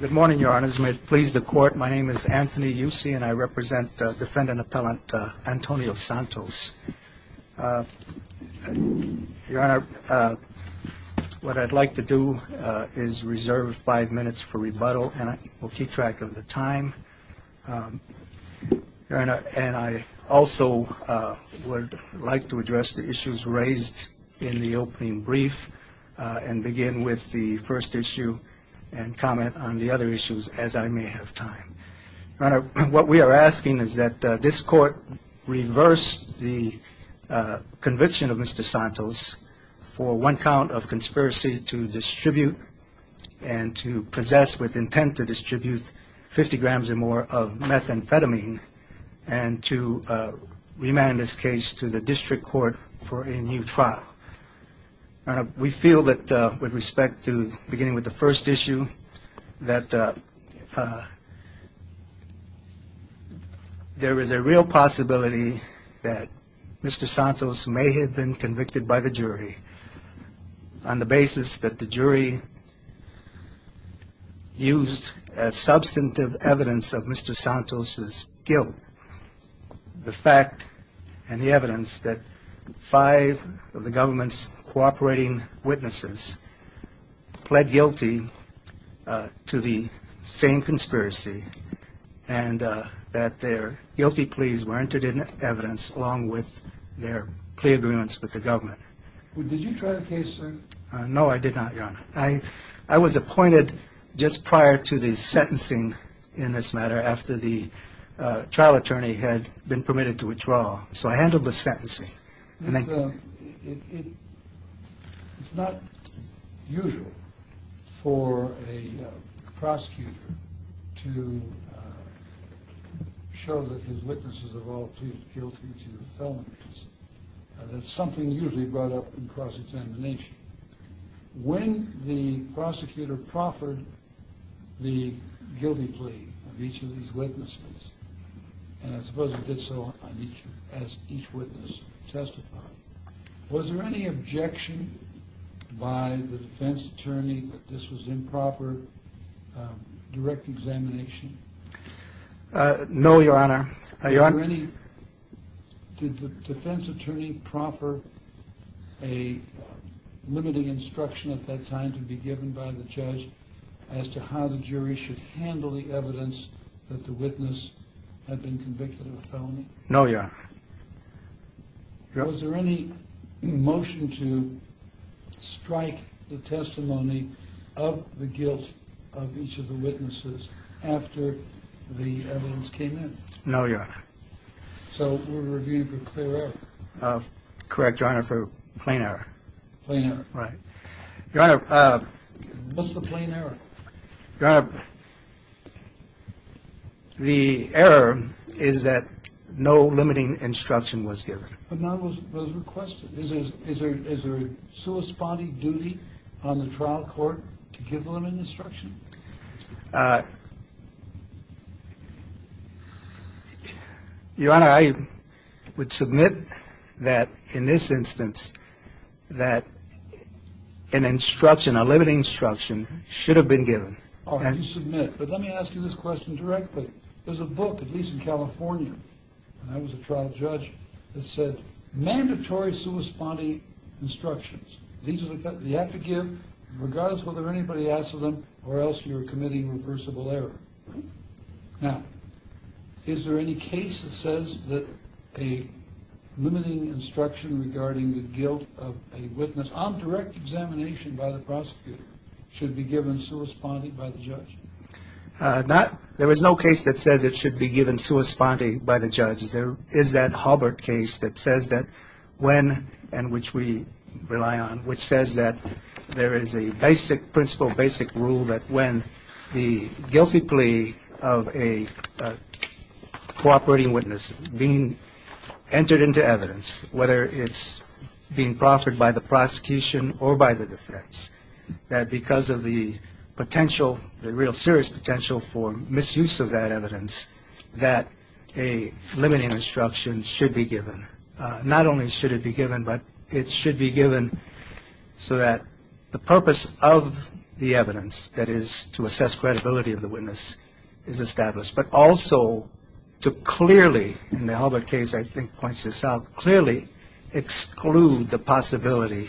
Good morning, your honors. May it please the court, my name is Anthony Yusey, and I represent defendant-appellant Antonio Santos. Your honor, what I'd like to do is reserve five minutes for rebuttal, and I will keep track of the time. Your honor, and I also would like to address the issues raised in the opening brief and begin with the first issue and comment on the other issues as I may have time. Your honor, what we are asking is that this court reverse the conviction of Mr. Santos for one count of conspiracy to distribute and to possess with intent to distribute 50 grams or more of methamphetamine and to remand this case to the district court for a new trial. Your honor, we feel that with respect to beginning with the first issue, that there is a real possibility that Mr. Santos may have been convicted by the jury on the basis that the jury used as substantive evidence of Mr. Santos' guilt. The fact and the evidence that five of the government's cooperating witnesses pled guilty to the same conspiracy and that their guilty pleas were entered in evidence along with their plea agreements with the government. Well, did you try the case, sir? No, I did not, your honor. I was appointed just prior to the sentencing in this matter after the trial attorney had been permitted to withdraw, so I handled the sentencing. It's not usual for a prosecutor to show that his witnesses have all pleaded guilty to felonies. When the prosecutor proffered the guilty plea of each of these witnesses, and I suppose he did so as each witness testified, was there any objection by the defense attorney that this was improper direct examination? No, your honor. Did the defense attorney proffer a limiting instruction at that time to be given by the judge as to how the jury should handle the evidence that the witness had been convicted of a felony? No, your honor. Was there any motion to strike the testimony of the guilt of each of the witnesses after the evidence came in? No, your honor. So we're reviewing for clear error? Correct, your honor, for plain error. Plain error. Right. Your honor... What's the plain error? Your honor, the error is that no limiting instruction was given. But none was requested. Is there a corresponding duty on the trial court to give the limiting instruction? Your honor, I would submit that, in this instance, that an instruction, a limiting instruction, should have been given. Oh, you submit. But let me ask you this question directly. There's a book, at least in California, when I was a trial judge, that said, mandatory sui spondi instructions. You have to give, regardless whether anybody asks for them, or else you're committing reversible error. Now, is there any case that says that a limiting instruction regarding the guilt of a witness on direct examination by the prosecutor should be given sui spondi by the judge? There is no case that says it should be given sui spondi by the judge. There is that Halbert case that says that when, and which we rely on, which says that there is a basic principle, basic rule, that when the guilty plea of a cooperating witness being entered into evidence, whether it's being proffered by the prosecution or by the defense, that because of the potential, the real serious potential for misuse of that evidence, that a limiting instruction should be given. Not only should it be given, but it should be given so that the purpose of the evidence, that is, to assess credibility of the witness, is established. But also to clearly, in the Halbert case I think points this out, clearly exclude the possibility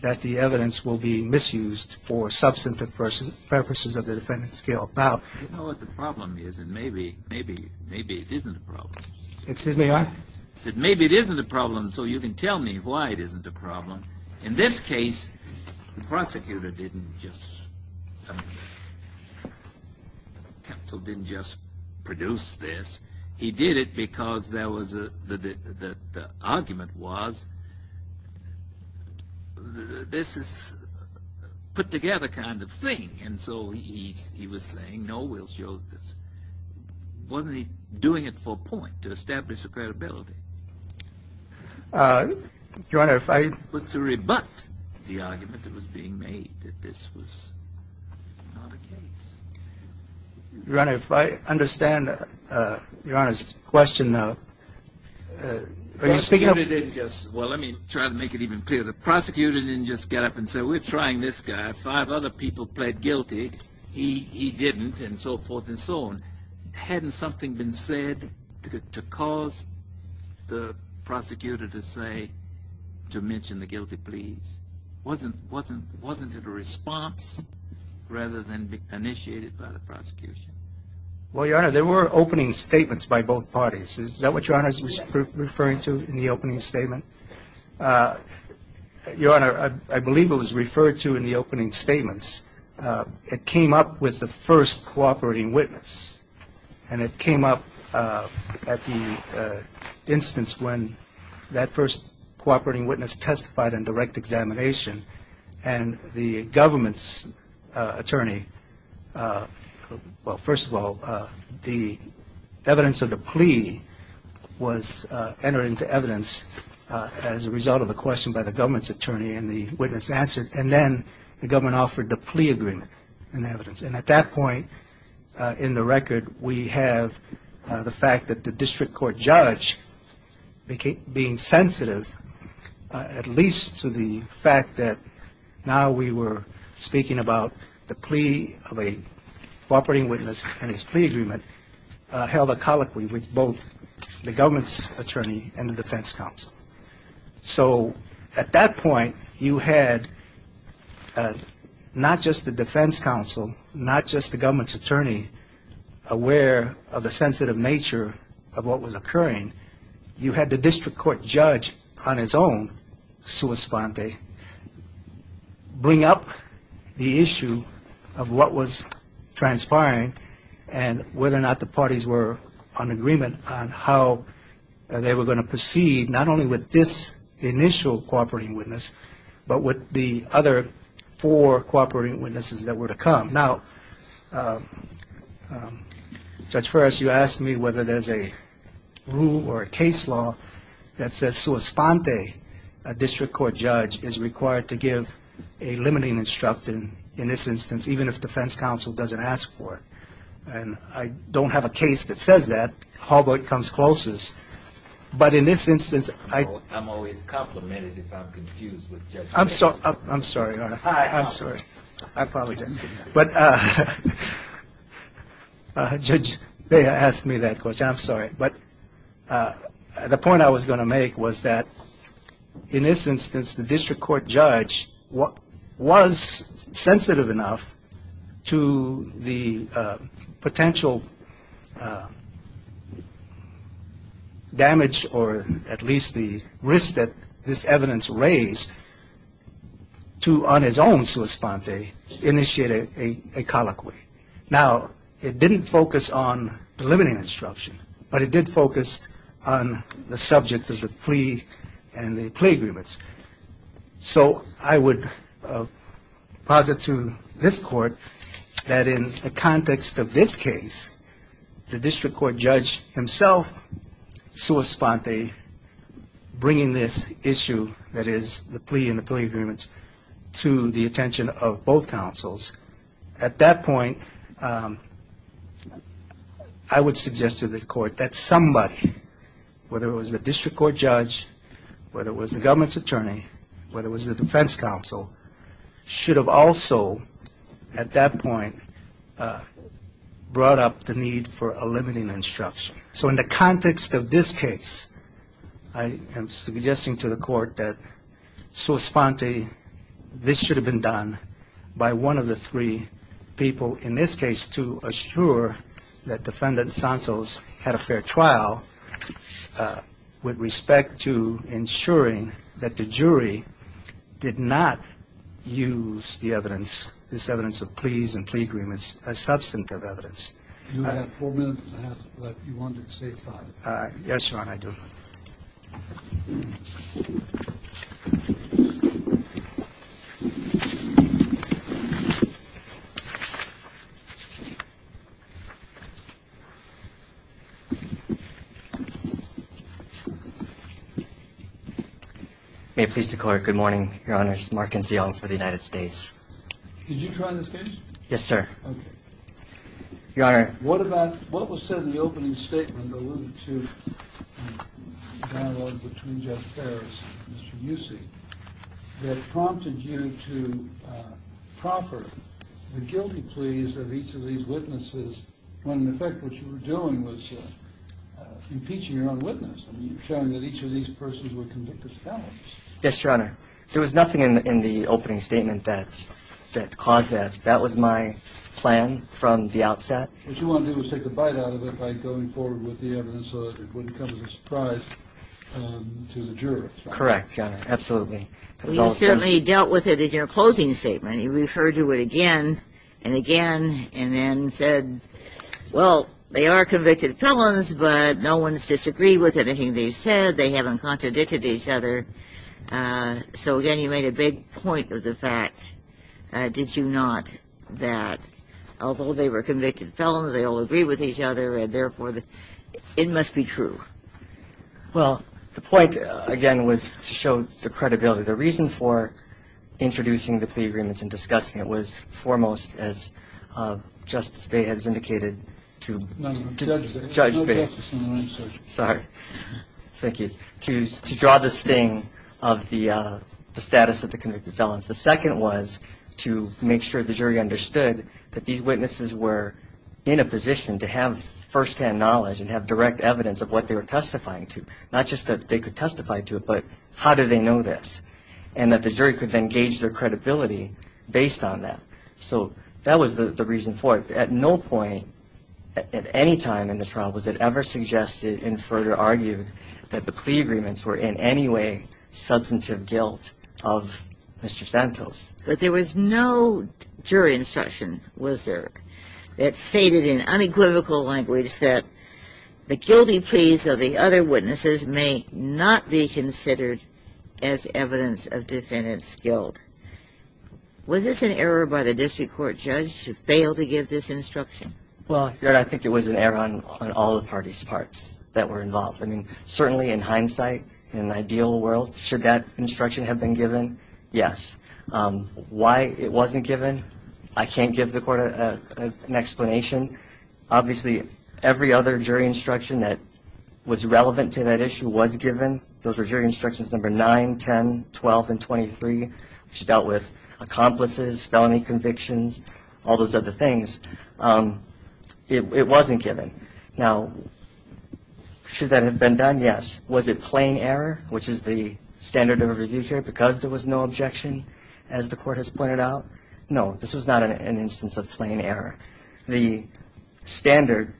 that the evidence will be misused for substantive purposes of the defendant's guilt. Now, you know what the problem is, and maybe it isn't a problem. Excuse me, Your Honor? I said maybe it isn't a problem, so you can tell me why it isn't a problem. In this case, the prosecutor didn't just, the counsel didn't just produce this. He did it because there was, the argument was, this is a put-together kind of thing. And so he was saying, no, we'll show this. Wasn't he doing it for a point, to establish the credibility? Your Honor, if I... But to rebut the argument that was being made, that this was not a case. Your Honor, if I understand Your Honor's question, are you speaking of... Well, let me try to make it even clearer. The prosecutor didn't just get up and say, we're trying this guy. Five other people pled guilty. He didn't, and so forth and so on. Hadn't something been said to cause the prosecutor to say, to mention the guilty pleas? Wasn't it a response rather than initiated by the prosecution? Well, Your Honor, there were opening statements by both parties. Is that what Your Honor was referring to in the opening statement? Your Honor, I believe it was referred to in the opening statements. It came up with the first cooperating witness, and it came up at the instance when that first cooperating witness testified in direct examination, and the government's attorney, well, first of all, the evidence of the plea was entered into evidence as a result of a question by the government's attorney, and the witness answered, and then the government offered the plea agreement in evidence. And at that point in the record, we have the fact that the district court judge being sensitive, at least to the fact that now we were speaking about the plea of a cooperating witness and his plea agreement held a colloquy with both the government's attorney and the defense counsel. So at that point, you had not just the defense counsel, not just the government's attorney, aware of the sensitive nature of what was occurring. You had the district court judge on his own, sua sponte, bring up the issue of what was transpiring and whether or not the parties were on agreement on how they were going to proceed, not only with this initial cooperating witness, but with the other four cooperating witnesses that were to come. Now, Judge Ferris, you asked me whether there's a rule or a case law that says sua sponte, a district court judge is required to give a limiting instruction in this instance, even if defense counsel doesn't ask for it. And I don't have a case that says that, although it comes closest. But in this instance, I'm always complimented if I'm confused with Judge Bayer. I'm sorry, Your Honor. I apologize. But Judge Bayer asked me that question. I'm sorry. But the point I was going to make was that, in this instance, the district court judge was sensitive enough to the potential damage, or at least the risk that this evidence raised, to, on his own, sua sponte, initiate a colloquy. Now, it didn't focus on the limiting instruction, but it did focus on the subject of the plea and the plea agreements. So I would posit to this Court that, in the context of this case, the district court judge himself, sua sponte, bringing this issue, that is the plea and the plea agreements, to the attention of both counsels. At that point, I would suggest to the Court that somebody, whether it was the district court judge, whether it was the government's attorney, whether it was the defense counsel, should have also, at that point, brought up the need for a limiting instruction. So in the context of this case, I am suggesting to the Court that, sua sponte, this should have been done by one of the three people, in this case, to assure that Defendant Santos had a fair trial with respect to ensuring that the jury did not use the evidence, this evidence of pleas and plea agreements, as substantive evidence. You have four minutes and a half left. You wanted to say five. Yes, Your Honor, I do. May it please the Court, good morning. Your Honors, Mark Anzio for the United States. Did you try this case? Yes, sir. Okay. Your Honor. What about what was said in the opening statement alluding to the dialogue between Jeff Ferris and Mr. Yusey, that prompted you to proffer the guilty pleas of each of these witnesses, when, in effect, what you were doing was impeaching your own witness and showing that each of these persons were convicted felons? Yes, Your Honor. There was nothing in the opening statement that caused that. That was my plan from the outset. What you wanted to do was take a bite out of it by going forward with the evidence so that it wouldn't come as a surprise to the jurors, right? Correct, Your Honor. Absolutely. You certainly dealt with it in your closing statement. You referred to it again and again and then said, well, they are convicted felons, but no one's disagreed with anything they've said. They haven't contradicted each other. So, again, you made a big point of the fact, did you not, that although they were convicted felons, they all agreed with each other and, therefore, it must be true? Well, the point, again, was to show the credibility. The reason for introducing the plea agreements and discussing it was foremost, as Justice Bey has indicated, to judge Bey. Sorry. Thank you. To draw the sting of the status of the convicted felons. The second was to make sure the jury understood that these witnesses were in a position to have firsthand knowledge and have direct evidence of what they were testifying to, not just that they could testify to it, but how do they know this, and that the jury could then gauge their credibility based on that. So that was the reason for it. At no point at any time in the trial was it ever suggested and further argued that the plea agreements were in any way substantive guilt of Mr. Santos. But there was no jury instruction, was there, that stated in unequivocal language that the guilty pleas of the other witnesses may not be considered as evidence of defendant's guilt. Was this an error by the district court judge to fail to give this instruction? Well, Your Honor, I think it was an error on all the parties' parts that were involved. I mean, certainly in hindsight, in an ideal world, should that instruction have been given, yes. Why it wasn't given, I can't give the court an explanation. Obviously, every other jury instruction that was relevant to that issue was given. Those were jury instructions number 9, 10, 12, and 23, which dealt with accomplices, felony convictions, all those other things. It wasn't given. Now, should that have been done, yes. Was it plain error, which is the standard of a review here, because there was no objection, as the court has pointed out? No, this was not an instance of plain error. The standard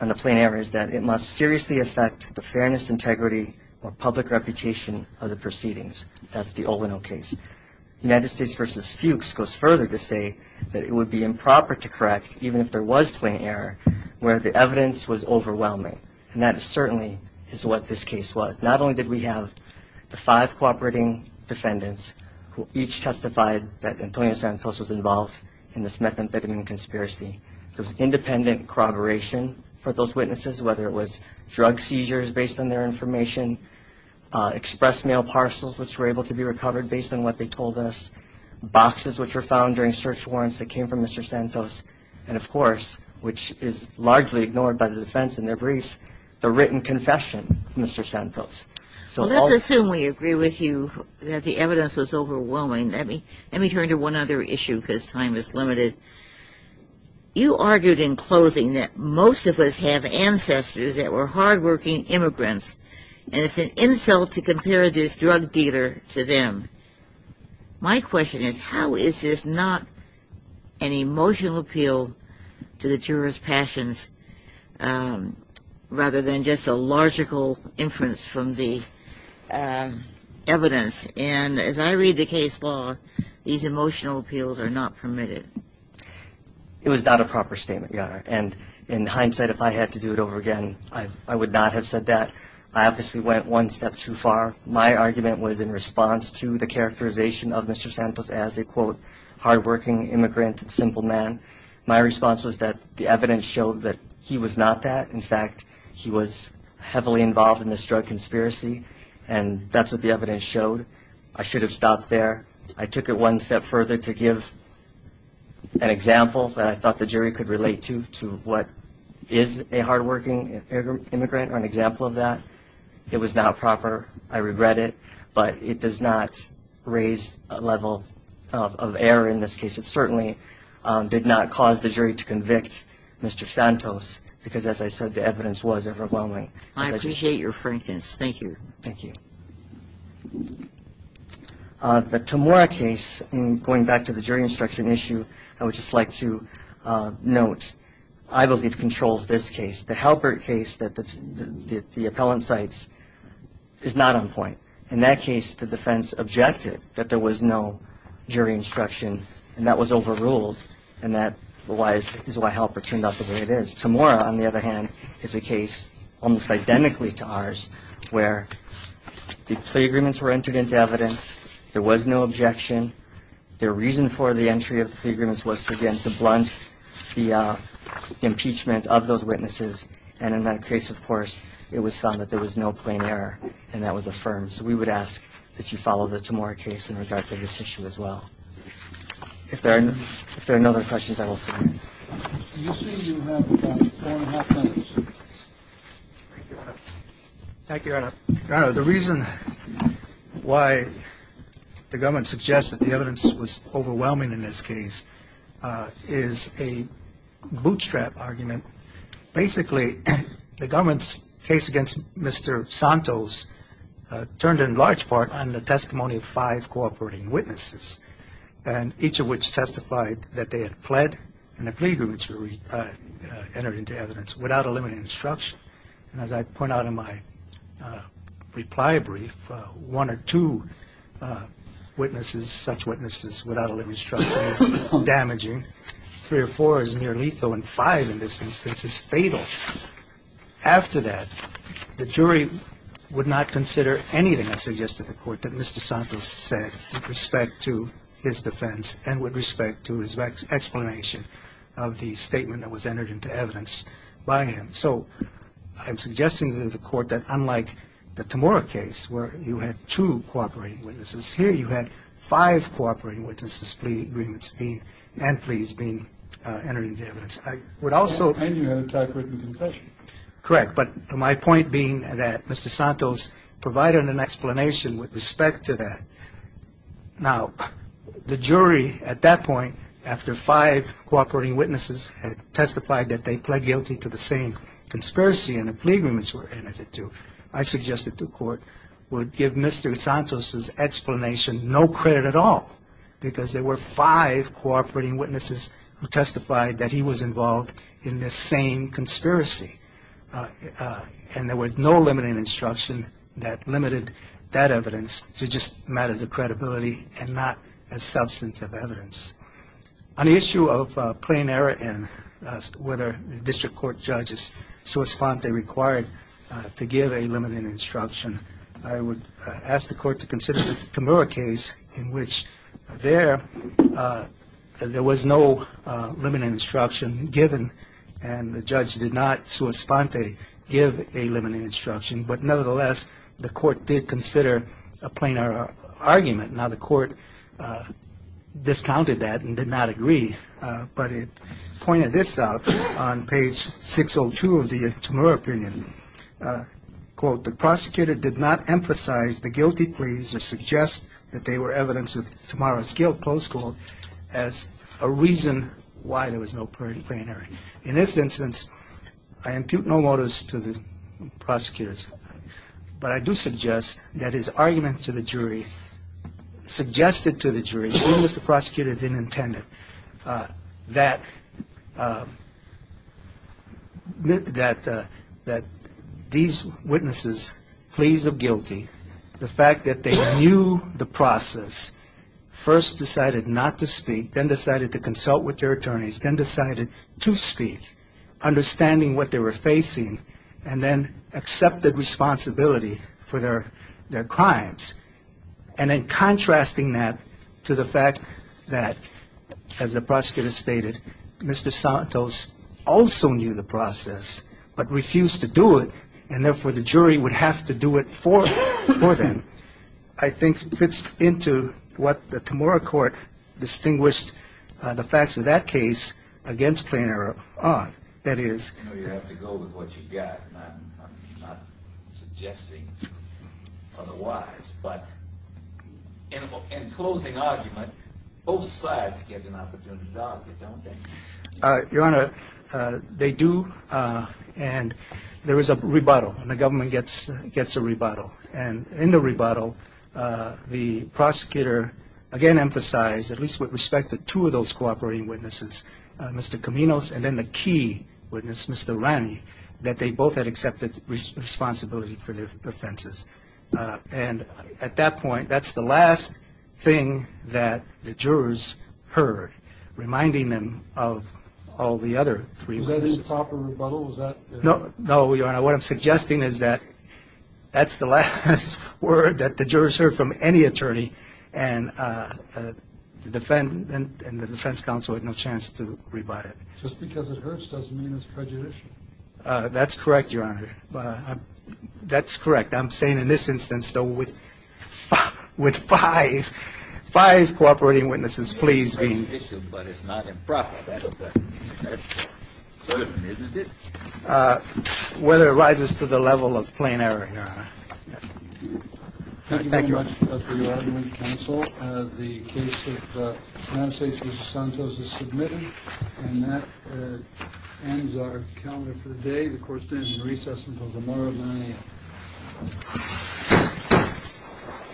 on the plain error is that it must seriously affect the fairness, integrity, or public reputation of the proceedings. That's the Olino case. United States v. Fuchs goes further to say that it would be improper to correct, even if there was plain error, where the evidence was overwhelming. And that certainly is what this case was. Not only did we have the five cooperating defendants, who each testified that Antonio Santos was involved in this methamphetamine conspiracy. There was independent corroboration for those witnesses, whether it was drug seizures based on their information, express mail parcels, which were able to be recovered based on what they told us, boxes which were found during search warrants that came from Mr. Santos, and of course, which is largely ignored by the defense in their briefs, the written confession of Mr. Santos. Let's assume we agree with you that the evidence was overwhelming. Let me turn to one other issue because time is limited. You argued in closing that most of us have ancestors that were hardworking immigrants, and it's an insult to compare this drug dealer to them. My question is how is this not an emotional appeal to the jurors' passions rather than just a logical inference from the evidence? And as I read the case law, these emotional appeals are not permitted. It was not a proper statement, Your Honor. And in hindsight, if I had to do it over again, I would not have said that. I obviously went one step too far. My argument was in response to the characterization of Mr. Santos as a, quote, hardworking immigrant, simple man. My response was that the evidence showed that he was not that. In fact, he was heavily involved in this drug conspiracy, and that's what the evidence showed. I should have stopped there. I took it one step further to give an example that I thought the jury could relate to, to what is a hardworking immigrant or an example of that. It was not proper. I regret it. But it does not raise a level of error in this case. It certainly did not cause the jury to convict Mr. Santos because, as I said, the evidence was overwhelming. I appreciate your frankness. Thank you. Thank you. The Tamora case, going back to the jury instruction issue, I would just like to note, I believe controls this case. The Halpert case that the appellant cites is not on point. In that case, the defense objected that there was no jury instruction, and that was overruled, and that is why Halpert turned out the way it is. Tamora, on the other hand, is a case almost identically to ours, where the plea agreements were entered into evidence. There was no objection. The reason for the entry of the plea agreements was, again, to blunt the impeachment of those witnesses. And in that case, of course, it was found that there was no plain error, and that was affirmed. So we would ask that you follow the Tamora case in regard to this issue as well. If there are no other questions, I will stop. Thank you, Your Honor. Your Honor, the reason why the government suggests that the evidence was overwhelming in this case is a bootstrap argument. Basically, the government's case against Mr. Santos turned, in large part, on the testimony of five cooperating witnesses, and each of which testified that they had pled, and the plea agreements were entered into evidence without eliminating instruction. And as I point out in my reply brief, one or two witnesses, such witnesses without eliminating instruction, is damaging. Three or four is near lethal, and five in this instance is fatal. After that, the jury would not consider anything, I suggest to the Court, that Mr. Santos said with respect to his defense and with respect to his explanation of the statement that was entered into evidence by him. So I'm suggesting to the Court that unlike the Tamora case where you had two cooperating witnesses, here you had five cooperating witnesses' plea agreements and pleas being entered into evidence. I would also ---- And you had a typewritten confession. Correct. But my point being that Mr. Santos provided an explanation with respect to that. Now, the jury, at that point, after five cooperating witnesses had testified that they pled guilty to the same conspiracy and the plea agreements were entered into, I suggest that the Court would give Mr. Santos' explanation no credit at all because there were five cooperating witnesses who testified that he was involved in this same conspiracy. And there was no limiting instruction that limited that evidence to just matters of credibility and not a substance of evidence. On the issue of plain error and whether the district court judges sua sponte required to give a limiting instruction, I would ask the Court to consider the Tamora case in which there was no limiting instruction given and the judge did not sua sponte give a limiting instruction. But nevertheless, the Court did consider a plain error argument. Now, the Court discounted that and did not agree, but it pointed this out on page 602 of the Tamora opinion. Quote, The prosecutor did not emphasize the guilty pleas or suggest that they were evidence of Tamora's guilt, close quote, as a reason why there was no plain error. In this instance, I impute no motives to the prosecutors, but I do suggest that his argument to the jury suggested to the jury, even if the prosecutor didn't intend it, that these witnesses, pleas of guilty, the fact that they knew the process, first decided not to speak, then decided to consult with their attorneys, then decided to speak, understanding what they were facing, and then accepted responsibility for their crimes, and then contrasting that to the fact that, as the prosecutor stated, Mr. Santos also knew the process but refused to do it, and therefore the jury would have to do it for them, I think fits into what the Tamora Court distinguished the facts of that case against plain error on. That is, you know, you have to go with what you've got, not suggesting otherwise, but in closing argument, both sides get an opportunity to argue, don't they? Your Honor, they do, and there was a rebuttal, and the government gets a rebuttal, and in the rebuttal, the prosecutor, again, emphasized at least with respect to two of those cooperating witnesses, Mr. Caminos, and then the key witness, Mr. Ranney, that they both had accepted responsibility for their offenses, and at that point, that's the last thing that the jurors heard, reminding them of all the other three witnesses. Was that a proper rebuttal? No, Your Honor, what I'm suggesting is that that's the last word that the jurors heard from any attorney, and the defense counsel had no chance to rebut it. Just because it hurts doesn't mean it's prejudicial. That's correct, Your Honor. That's correct. I'm saying in this instance, though, with five cooperating witnesses, please be. It's prejudicial, but it's not improper. That's clear, isn't it? Whether it rises to the level of plain error, Your Honor. Thank you very much for your argument, counsel. The case of Francis DeSantos is submitted, and that ends our calendar for the day. The court stands in recess until tomorrow at 9 a.m.